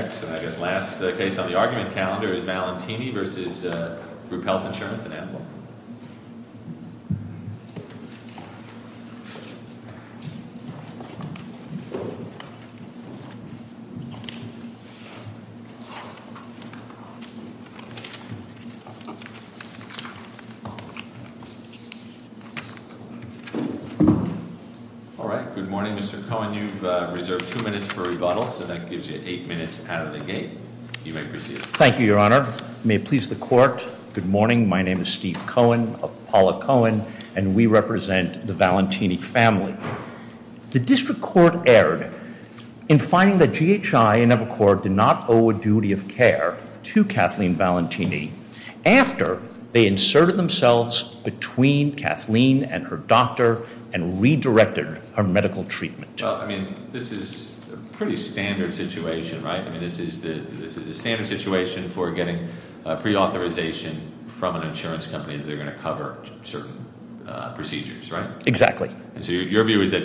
Next, and I guess last case on the argument calendar, is Valentini v. Group Health Insurance and Ample. All right. Good morning, Mr. Cohen. You've reserved two minutes for rebuttal, so that gives you eight minutes out of the gate. You may proceed. Thank you, your honor. May it please the court. Good morning. My name is Steve Cohen of Paula Cohen, and we represent the Valentini family. The district court erred in finding that GHI and Evercore did not owe a duty of care to Kathleen Valentini after they inserted themselves between Kathleen and her doctor and redirected her medical treatment. Well, I mean, this is a pretty standard situation, right? They're going to cover certain procedures, right? Exactly. And so your view is that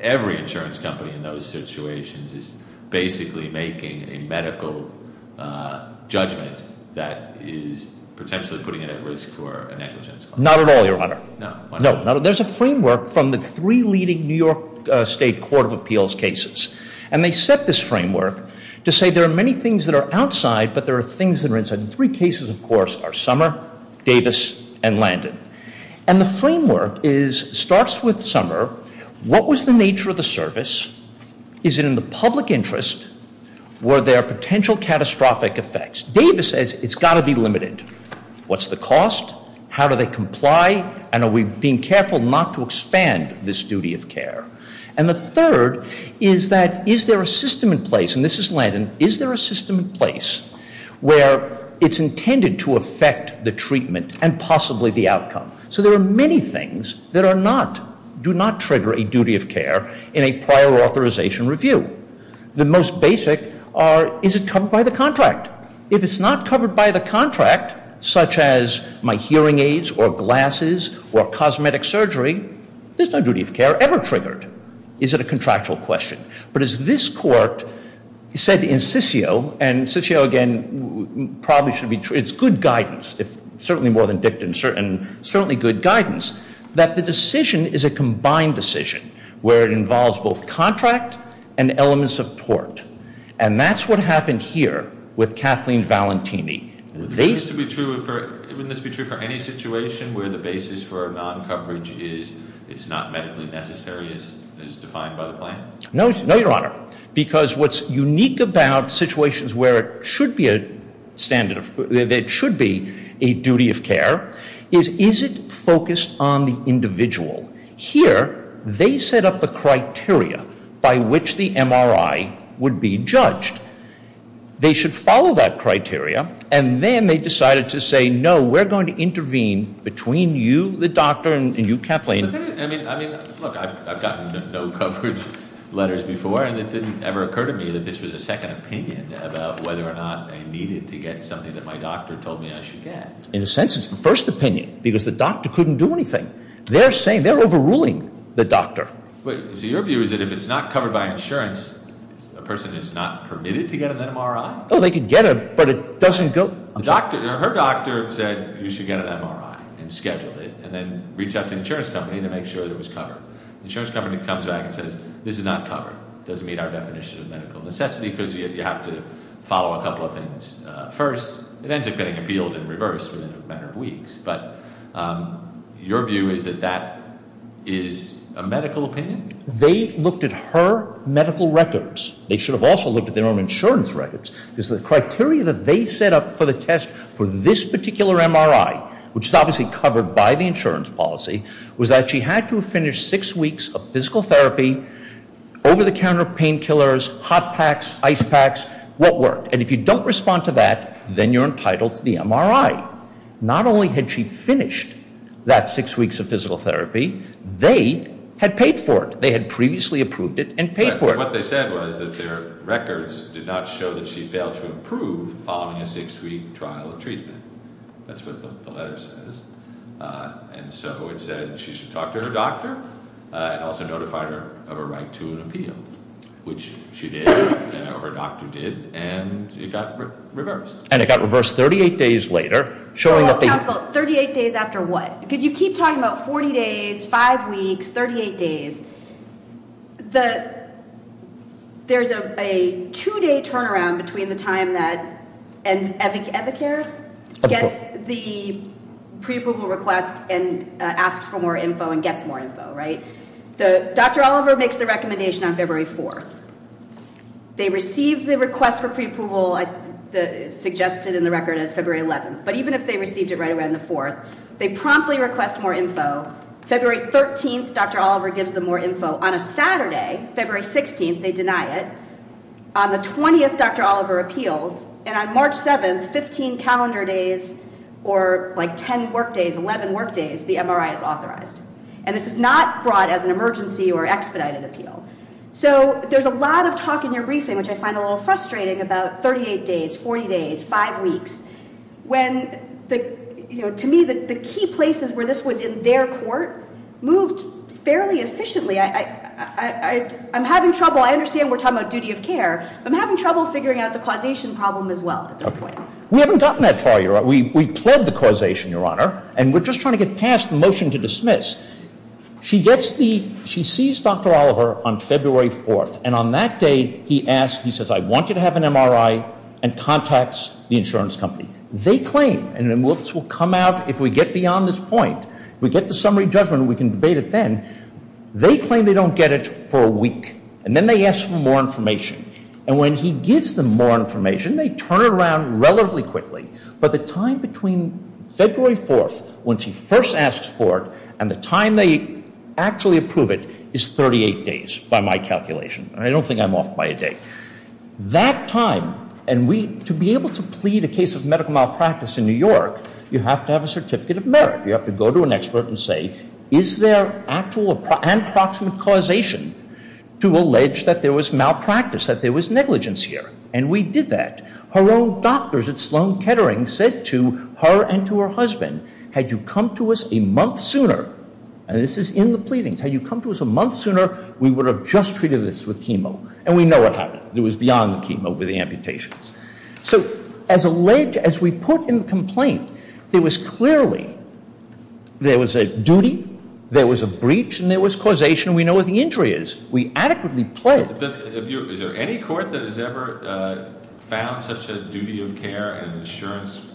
every insurance company in those situations is basically making a medical judgment that is potentially putting it at risk for a negligence claim. Not at all, your honor. No. No, there's a framework from the three leading New York State Court of Appeals cases, and they set this framework to say there are many things that are outside, but there are things that are inside. And the three cases, of course, are Summer, Davis, and Landon. And the framework starts with Summer. What was the nature of the service? Is it in the public interest? Were there potential catastrophic effects? Davis says it's got to be limited. What's the cost? How do they comply? And are we being careful not to expand this duty of care? And the third is that is there a system in place, and this is Landon, is there a system in place where it's intended to affect the treatment and possibly the outcome? So there are many things that are not, do not trigger a duty of care in a prior authorization review. The most basic are is it covered by the contract? If it's not covered by the contract, such as my hearing aids or glasses or cosmetic surgery, there's no duty of care ever triggered. Is it a contractual question? But as this court said in Sissio, and Sissio, again, probably should be true, it's good guidance, certainly more than Dicton, certainly good guidance, that the decision is a combined decision where it involves both contract and elements of tort. And that's what happened here with Kathleen Valentini. Wouldn't this be true for any situation where the basis for a non-coverage is it's not medically necessary as defined by the plan? No, Your Honor, because what's unique about situations where it should be a standard, it should be a duty of care, is is it focused on the individual? Here they set up the criteria by which the MRI would be judged. They should follow that criteria, and then they decided to say, no, we're going to intervene between you, the doctor, and you, Kathleen. Look, I've gotten no coverage letters before, and it didn't ever occur to me that this was a second opinion about whether or not I needed to get something that my doctor told me I should get. In a sense, it's the first opinion, because the doctor couldn't do anything. They're saying, they're overruling the doctor. So your view is that if it's not covered by insurance, a person is not permitted to get an MRI? Oh, they could get it, but it doesn't go- Her doctor said you should get an MRI and schedule it, and then reach out to the insurance company to make sure that it was covered. The insurance company comes back and says, this is not covered. It doesn't meet our definition of medical necessity, because you have to follow a couple of things first. It ends up getting appealed in reverse within a matter of weeks. But your view is that that is a medical opinion? They looked at her medical records. They should have also looked at their own insurance records. Because the criteria that they set up for the test for this particular MRI, which is obviously covered by the insurance policy, was that she had to have finished six weeks of physical therapy, over-the-counter painkillers, hot packs, ice packs, what worked. And if you don't respond to that, then you're entitled to the MRI. Not only had she finished that six weeks of physical therapy, they had paid for it. They had previously approved it and paid for it. But what they said was that their records did not show that she failed to approve following a six-week trial of treatment. That's what the letter says. And so it said she should talk to her doctor and also notified her of her right to an appeal, which she did, or her doctor did, and it got reversed. And it got reversed 38 days later, showing that the- Well, counsel, 38 days after what? Because you keep talking about 40 days, five weeks, 38 days. There's a two-day turnaround between the time that an evicare gets the pre-approval request and asks for more info and gets more info, right? Dr. Oliver makes the recommendation on February 4th. They receive the request for pre-approval suggested in the record as February 11th. But even if they received it right around the 4th, they promptly request more info. February 13th, Dr. Oliver gives them more info. On a Saturday, February 16th, they deny it. On the 20th, Dr. Oliver appeals. And on March 7th, 15 calendar days or, like, 10 work days, 11 work days, the MRI is authorized. And this is not brought as an emergency or expedited appeal. So there's a lot of talk in your briefing, which I find a little frustrating, about 38 days, 40 days, five weeks. When, you know, to me, the key places where this was in their court moved fairly efficiently. I'm having trouble. I understand we're talking about duty of care. I'm having trouble figuring out the causation problem as well at this point. We haven't gotten that far, Your Honor. We pled the causation, Your Honor. And we're just trying to get past the motion to dismiss. She gets the ‑‑ she sees Dr. Oliver on February 4th. And on that day, he asks, he says, I want you to have an MRI and contacts the insurance company. They claim, and then we'll come out, if we get beyond this point, if we get the summary judgment, we can debate it then. They claim they don't get it for a week. And then they ask for more information. And when he gives them more information, they turn it around relatively quickly. But the time between February 4th, when she first asks for it, and the time they actually approve it is 38 days by my calculation. And I don't think I'm off by a day. That time, and we, to be able to plead a case of medical malpractice in New York, you have to have a certificate of merit. You have to go to an expert and say, is there actual and proximate causation to allege that there was malpractice, that there was negligence here? And we did that. Her own doctors at Sloan Kettering said to her and to her husband, had you come to us a month sooner, and this is in the pleadings, had you come to us a month sooner, we would have just treated this with chemo. And we know what happened. It was beyond the chemo with the amputations. So as alleged, as we put in the complaint, there was clearly, there was a duty, there was a breach, and there was causation. We know what the injury is. We adequately pled. Is there any court that has ever found such a duty of care in an insurance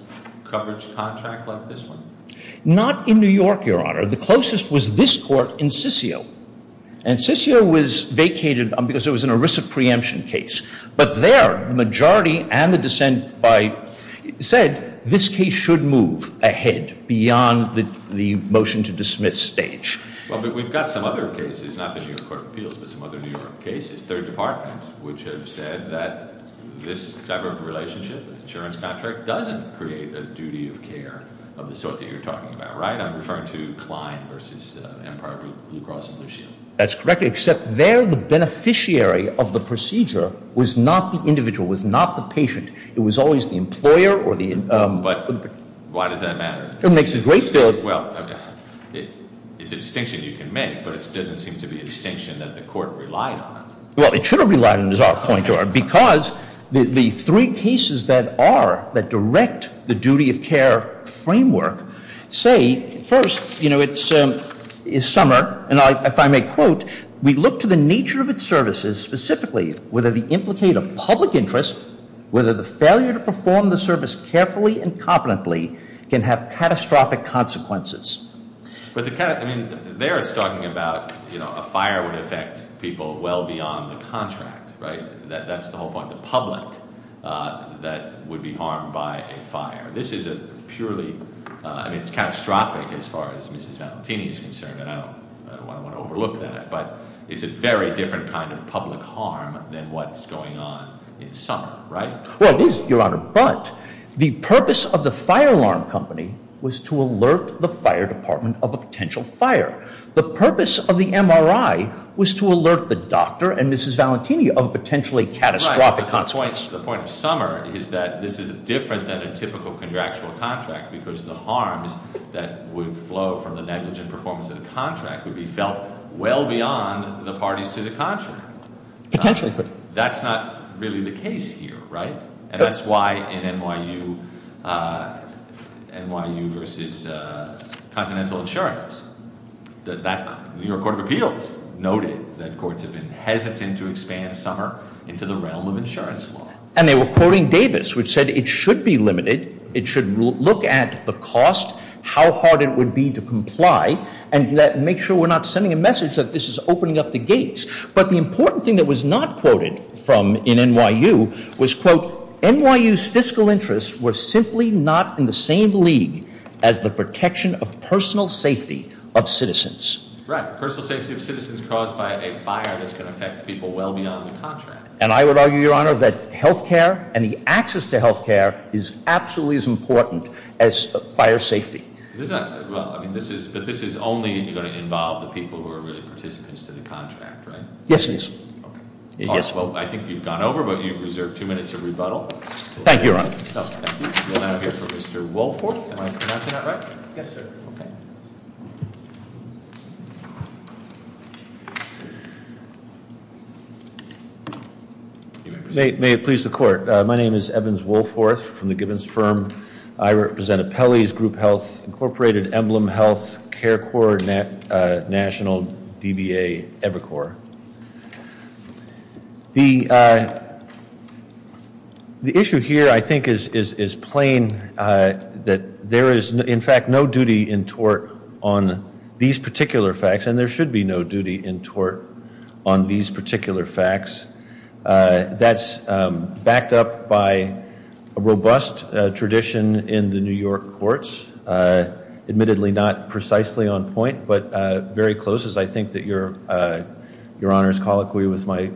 coverage contract like this one? Not in New York, Your Honor. The closest was this court in Sissio. And Sissio was vacated because it was an ERISA preemption case. But there, the majority and the dissent said this case should move ahead beyond the motion to dismiss stage. Well, but we've got some other cases, not the New York Court of Appeals, but some other New York cases, third department, which have said that this type of relationship, insurance contract, doesn't create a duty of care of the sort that you're talking about, right? I'm referring to Klein versus Empire Blue Cross and Blue Shield. That's correct, except there the beneficiary of the procedure was not the individual, was not the patient. It was always the employer or the- But why does that matter? It makes a great deal of- Well, it's a distinction you can make, but it doesn't seem to be a distinction that the court relied on. Well, it should have relied on, is our point, Your Honor, because the three cases that are, that direct the duty of care framework say, first, you know, it's Summer, and if I may quote, we look to the nature of its services, specifically whether they implicate a public interest, whether the failure to perform the service carefully and competently can have catastrophic consequences. But the kind of, I mean, there it's talking about, you know, a fire would affect people well beyond the contract, right? That's the whole point, the public that would be harmed by a fire. This is a purely, I mean, it's catastrophic as far as Mrs. Valentini is concerned, and I don't want to overlook that, but it's a very different kind of public harm than what's going on in Summer, right? Well, it is, Your Honor, but the purpose of the fire alarm company was to alert the fire department of a potential fire. The purpose of the MRI was to alert the doctor and Mrs. Valentini of potentially catastrophic consequences. Right, but the point of Summer is that this is different than a typical contractual contract because the harms that would flow from the negligent performance of the contract would be felt well beyond the parties to the contract. Potentially. That's not really the case here, right? And that's why in NYU versus Continental Insurance, the New York Court of Appeals noted that courts have been hesitant to expand Summer into the realm of insurance law. And they were quoting Davis, which said it should be limited, it should look at the cost, how hard it would be to comply, and make sure we're not sending a message that this is opening up the gates. But the important thing that was not quoted in NYU was, quote, NYU's fiscal interests were simply not in the same league as the protection of personal safety of citizens. Right, personal safety of citizens caused by a fire that's going to affect people well beyond the contract. And I would argue, Your Honor, that health care and the access to health care is absolutely as important as fire safety. But this is only going to involve the people who are really participants to the contract, right? Yes, it is. Well, I think you've gone over, but you've reserved two minutes of rebuttal. Thank you, Your Honor. Thank you. We'll now hear from Mr. Woolford. Am I pronouncing that right? Yes, sir. Okay. May it please the court. My name is Evans Woolforth from the Givens firm. I represent Appellee's Group Health, Incorporated Emblem Health, Care Corps, National DBA, Evercore. The issue here, I think, is plain that there is, in fact, no duty in tort on these particular facts, and there should be no duty in tort on these particular facts. That's backed up by a robust tradition in the New York courts, admittedly not precisely on point, but very close, as I think that Your Honor's colloquy with my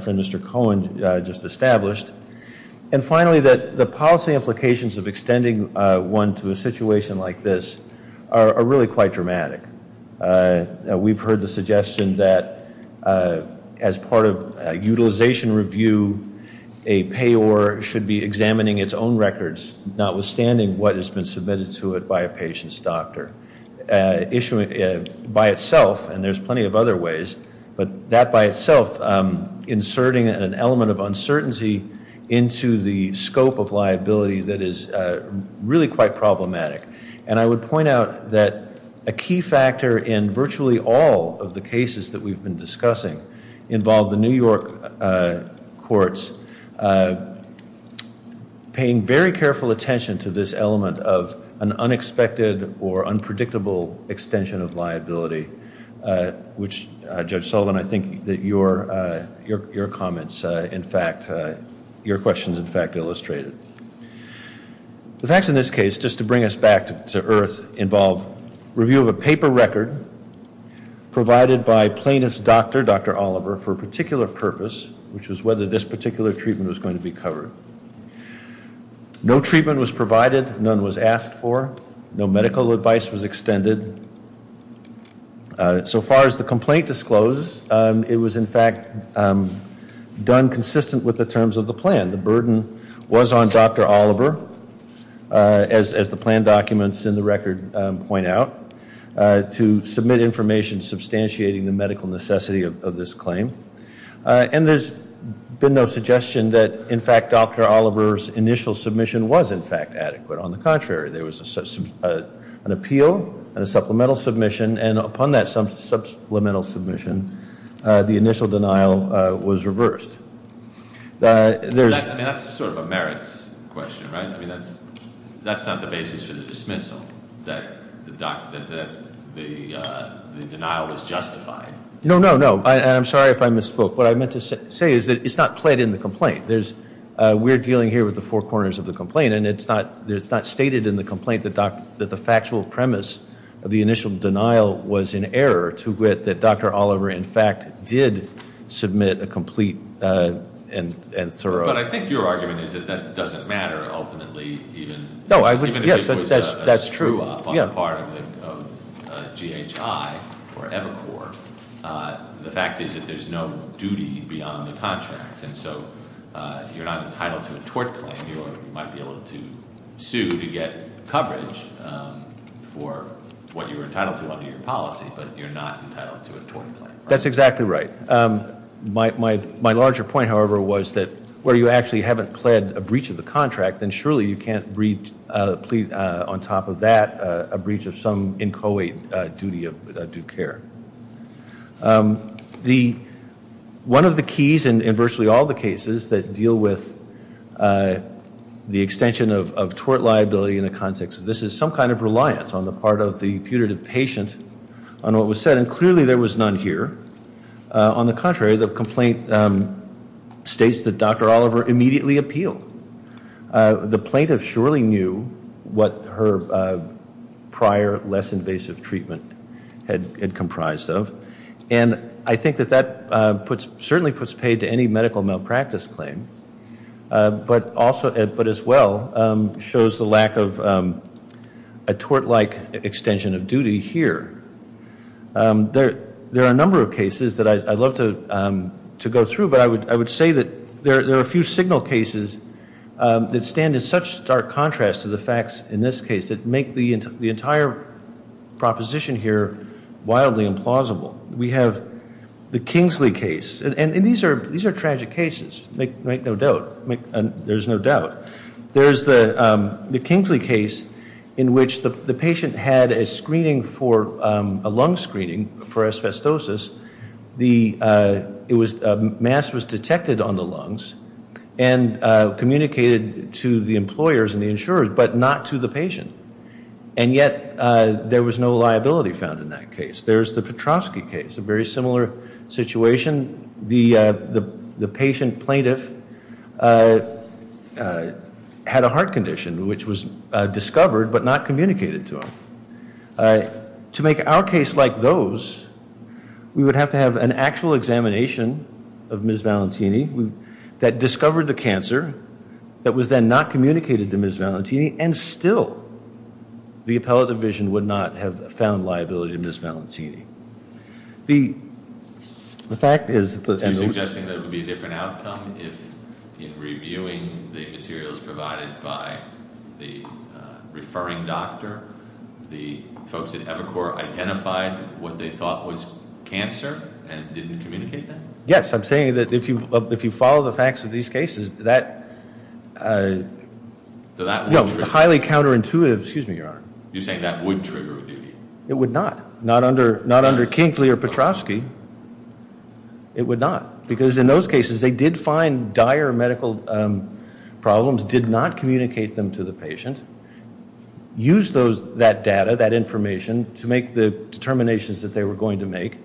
friend Mr. Cohen just established. And finally, the policy implications of extending one to a situation like this are really quite dramatic. We've heard the suggestion that as part of a utilization review, a payor should be examining its own records, notwithstanding what has been submitted to it by a patient's doctor. Issuing by itself, and there's plenty of other ways, but that by itself, inserting an element of uncertainty into the scope of liability that is really quite problematic. And I would point out that a key factor in virtually all of the cases that we've been discussing involve the New York courts paying very careful attention to this element of an unexpected or unpredictable extension of liability, which, Judge Sullivan, I think that your comments, in fact, your questions, in fact, illustrated. The facts in this case, just to bring us back to earth, involve review of a paper record provided by plaintiff's doctor, Dr. Oliver, for a particular purpose, which was whether this particular treatment was going to be covered. No treatment was provided. None was asked for. No medical advice was extended. So far as the complaint discloses, it was, in fact, done consistent with the terms of the plan. The burden was on Dr. Oliver, as the plan documents in the record point out, to submit information substantiating the medical necessity of this claim. And there's been no suggestion that, in fact, Dr. Oliver's initial submission was, in fact, adequate. On the contrary, there was an appeal and a supplemental submission, and upon that supplemental submission, the initial denial was reversed. I mean, that's sort of a merits question, right? I mean, that's not the basis for the dismissal, that the denial was justified. No, no, no. I'm sorry if I misspoke. What I meant to say is that it's not played in the complaint. We're dealing here with the four corners of the complaint, and it's not stated in the complaint that the factual premise of the initial denial was in error, to wit that Dr. Oliver, in fact, did submit a complete and thorough- But I think your argument is that that doesn't matter, ultimately, even- No, I would, yes, that's true. Even if it was a screw-up on the part of GHI or Epicor. The fact is that there's no duty beyond the contract, and so you're not entitled to a tort claim. You might be able to sue to get coverage for what you were entitled to under your policy, but you're not entitled to a tort claim. That's exactly right. My larger point, however, was that where you actually haven't pled a breach of the contract, then surely you can't plead on top of that a breach of some inchoate duty of due care. One of the keys in virtually all the cases that deal with the extension of tort liability in a context, this is some kind of reliance on the part of the putative patient on what was said, and clearly there was none here. On the contrary, the complaint states that Dr. Oliver immediately appealed. The plaintiff surely knew what her prior, less invasive treatment had comprised of, and I think that that certainly puts paid to any medical malpractice claim, but as well shows the lack of a tort-like extension of duty here. There are a number of cases that I'd love to go through, but I would say that there are a few signal cases that stand in such stark contrast to the facts in this case that make the entire proposition here wildly implausible. We have the Kingsley case, and these are tragic cases, make no doubt. There's no doubt. There's the Kingsley case in which the patient had a lung screening for asbestosis. Mass was detected on the lungs and communicated to the employers and the insurers, but not to the patient, and yet there was no liability found in that case. There's the Petrovsky case, a very similar situation. The patient plaintiff had a heart condition which was discovered but not communicated to him. To make our case like those, we would have to have an actual examination of Ms. Valentini that discovered the cancer that was then not communicated to Ms. Valentini, and still the appellate division would not have found liability in Ms. Valentini. The fact is that the- You're suggesting that it would be a different outcome if in reviewing the materials provided by the referring doctor, the folks at Evacor identified what they thought was cancer and didn't communicate that? Yes, I'm saying that if you follow the facts of these cases, that- No, highly counterintuitive. Excuse me, Your Honor. You're saying that would trigger a duty? It would not, not under Kingsley or Petrovsky. It would not, because in those cases they did find dire medical problems, did not communicate them to the patient, used that data, that information, to make the determinations that they were going to make,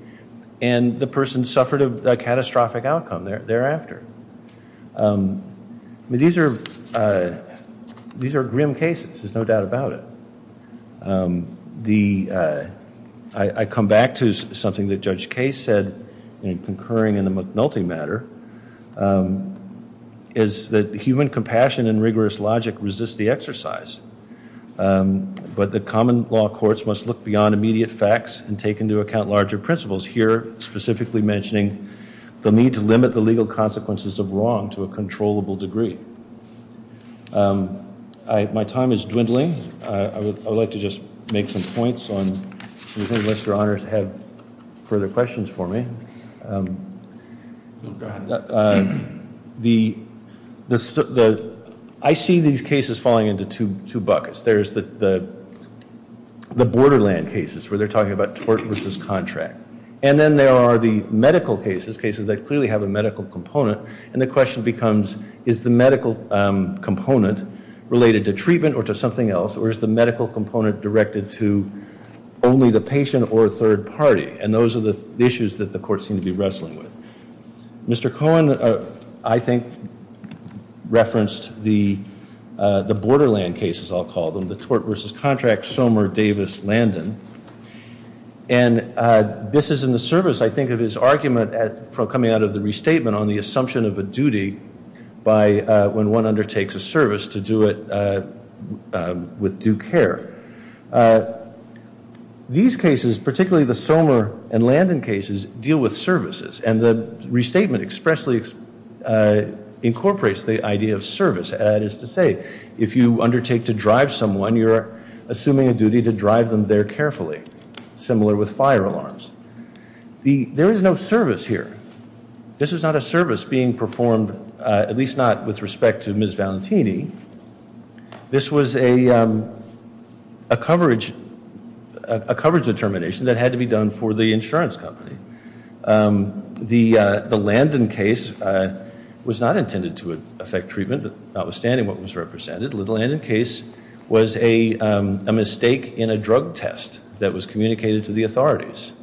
and the person suffered a catastrophic outcome thereafter. These are grim cases, there's no doubt about it. I come back to something that Judge Case said in concurring in the McNulty matter, is that human compassion and rigorous logic resist the exercise, but the common law courts must look beyond immediate facts and take into account larger principles. Here, specifically mentioning the need to limit the legal consequences of wrong to a controllable degree. My time is dwindling. I would like to just make some points unless Your Honors have further questions for me. I see these cases falling into two buckets. There's the borderland cases where they're talking about tort versus contract. And then there are the medical cases, cases that clearly have a medical component, and the question becomes is the medical component related to treatment or to something else, or is the medical component directed to only the patient or a third party? And those are the issues that the courts seem to be wrestling with. Mr. Cohen, I think, referenced the borderland cases, I'll call them, the tort versus contract, Somer, Davis, Landon. And this is in the service, I think, of his argument coming out of the restatement on the assumption of a duty when one undertakes a service to do it with due care. These cases, particularly the Somer and Landon cases, deal with services, and the restatement expressly incorporates the idea of service. That is to say, if you undertake to drive someone, you're assuming a duty to drive them there carefully, similar with fire alarms. There is no service here. This is not a service being performed, at least not with respect to Ms. Valentini. This was a coverage determination that had to be done for the insurance company. The Landon case was not intended to affect treatment, notwithstanding what was represented. The Landon case was a mistake in a drug test that was communicated to the authorities.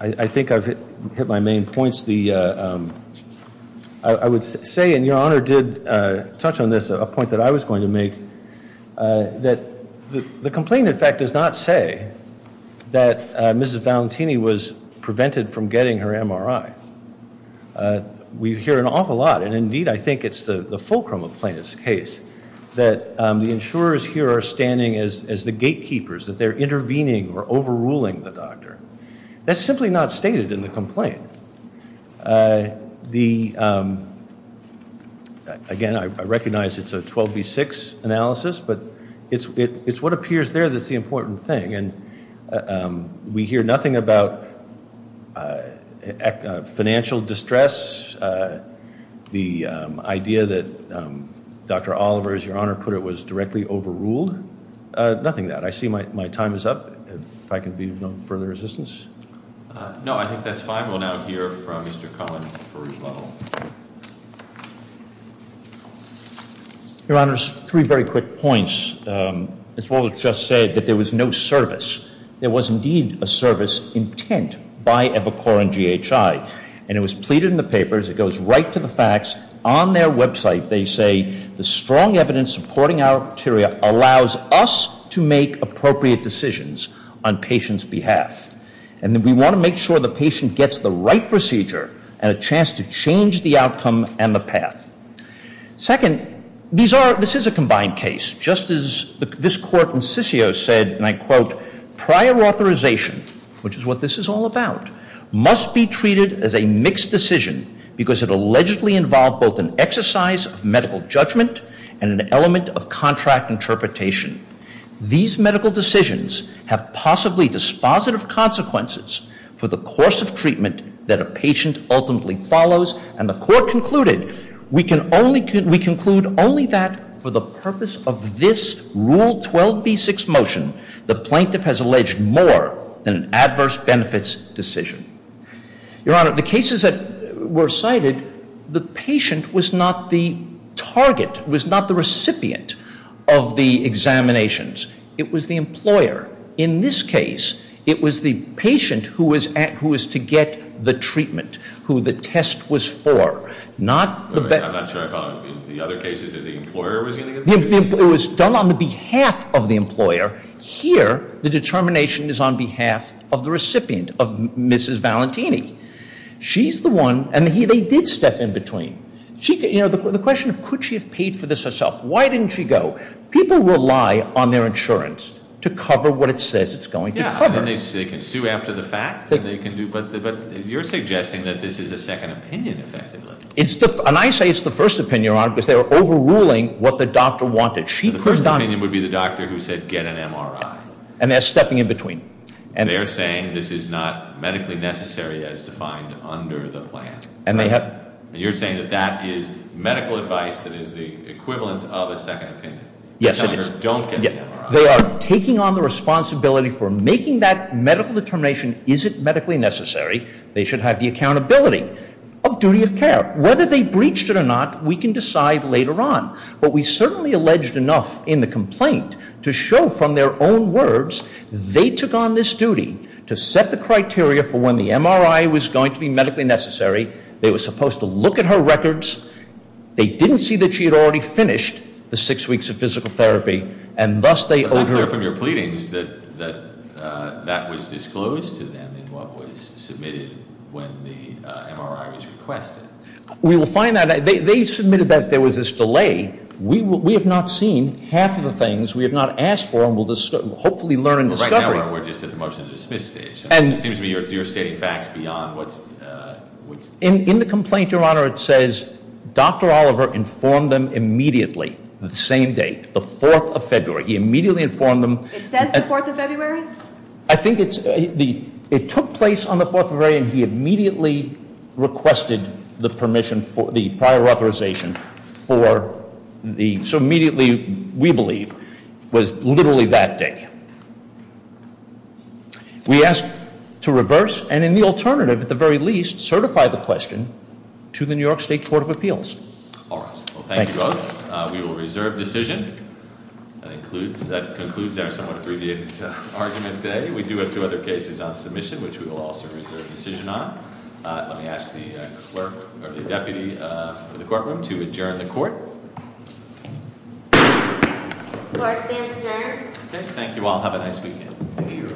I think I've hit my main points. I would say, and Your Honor did touch on this, a point that I was going to make, that the complaint, in fact, does not say that Mrs. Valentini was prevented from getting her MRI. We hear an awful lot, and indeed I think it's the fulcrum of the plaintiff's case, that the insurers here are standing as the gatekeepers, that they're intervening or overruling the doctor. That's simply not stated in the complaint. Again, I recognize it's a 12B6 analysis, but it's what appears there that's the important thing. We hear nothing about financial distress, the idea that Dr. Oliver, as Your Honor put it, was directly overruled. Nothing of that. I see my time is up. If I can be of no further assistance. No, I think that's fine. We'll now hear from Mr. Cullen for rebuttal. Your Honors, three very quick points. As Walter just said, that there was no service. There was indeed a service intent by Evacor and GHI. And it was pleaded in the papers. It goes right to the facts. On their website, they say, the strong evidence supporting our criteria allows us to make appropriate decisions on patients' behalf. And we want to make sure the patient gets the right procedure and a chance to change the outcome and the path. Second, this is a combined case. Just as this Court in Sissio said, and I quote, prior authorization, which is what this is all about, must be treated as a mixed decision because it allegedly involved both an exercise of medical judgment and an element of contract interpretation. These medical decisions have possibly dispositive consequences for the course of treatment that a patient ultimately follows. And the Court concluded, we conclude only that for the purpose of this Rule 12b-6 motion, the plaintiff has alleged more than an adverse benefits decision. Your Honor, the cases that were cited, the patient was not the target, was not the recipient of the examinations. It was the employer. In this case, it was the patient who was to get the treatment, who the test was for. I'm not sure I follow. In the other cases, the employer was going to get the treatment? It was done on the behalf of the employer. Here, the determination is on behalf of the recipient, of Mrs. Valentini. She's the one, and they did step in between. You know, the question of could she have paid for this herself? Why didn't she go? People rely on their insurance to cover what it says it's going to cover. Yeah, and they can sue after the fact, but you're suggesting that this is a second opinion, effectively. And I say it's the first opinion, Your Honor, because they were overruling what the doctor wanted. The first opinion would be the doctor who said, get an MRI. And they're stepping in between. They're saying this is not medically necessary as defined under the plan. And you're saying that that is medical advice that is the equivalent of a second opinion. Yes, it is. You're telling her, don't get an MRI. They are taking on the responsibility for making that medical determination. Is it medically necessary? They should have the accountability of duty of care. Whether they breached it or not, we can decide later on. But we certainly alleged enough in the complaint to show from their own words, they took on this duty to set the criteria for when the MRI was going to be medically necessary. They were supposed to look at her records. They didn't see that she had already finished the six weeks of physical therapy, and thus they owed her. It's not clear from your pleadings that that was disclosed to them in what was submitted when the MRI was requested. We will find out. They submitted that there was this delay. We have not seen half of the things. We have not asked for them. We'll hopefully learn in discovery. Right now, we're just at the motion to dismiss stage. It seems to me you're stating facts beyond what's- In the complaint, Your Honor, it says Dr. Oliver informed them immediately, the same date, the 4th of February. He immediately informed them. It says the 4th of February? I think it took place on the 4th of February, and he immediately requested the prior authorization for the, so immediately, we believe, was literally that day. We ask to reverse, and in the alternative, at the very least, certify the question to the New York State Court of Appeals. All right. Thank you both. We will reserve decision. That concludes our somewhat abbreviated argument today. We do have two other cases on submission, which we will also reserve decision on. Let me ask the clerk, or the deputy in the courtroom, to adjourn the court. Court stands adjourned. Thank you all. Have a nice weekend.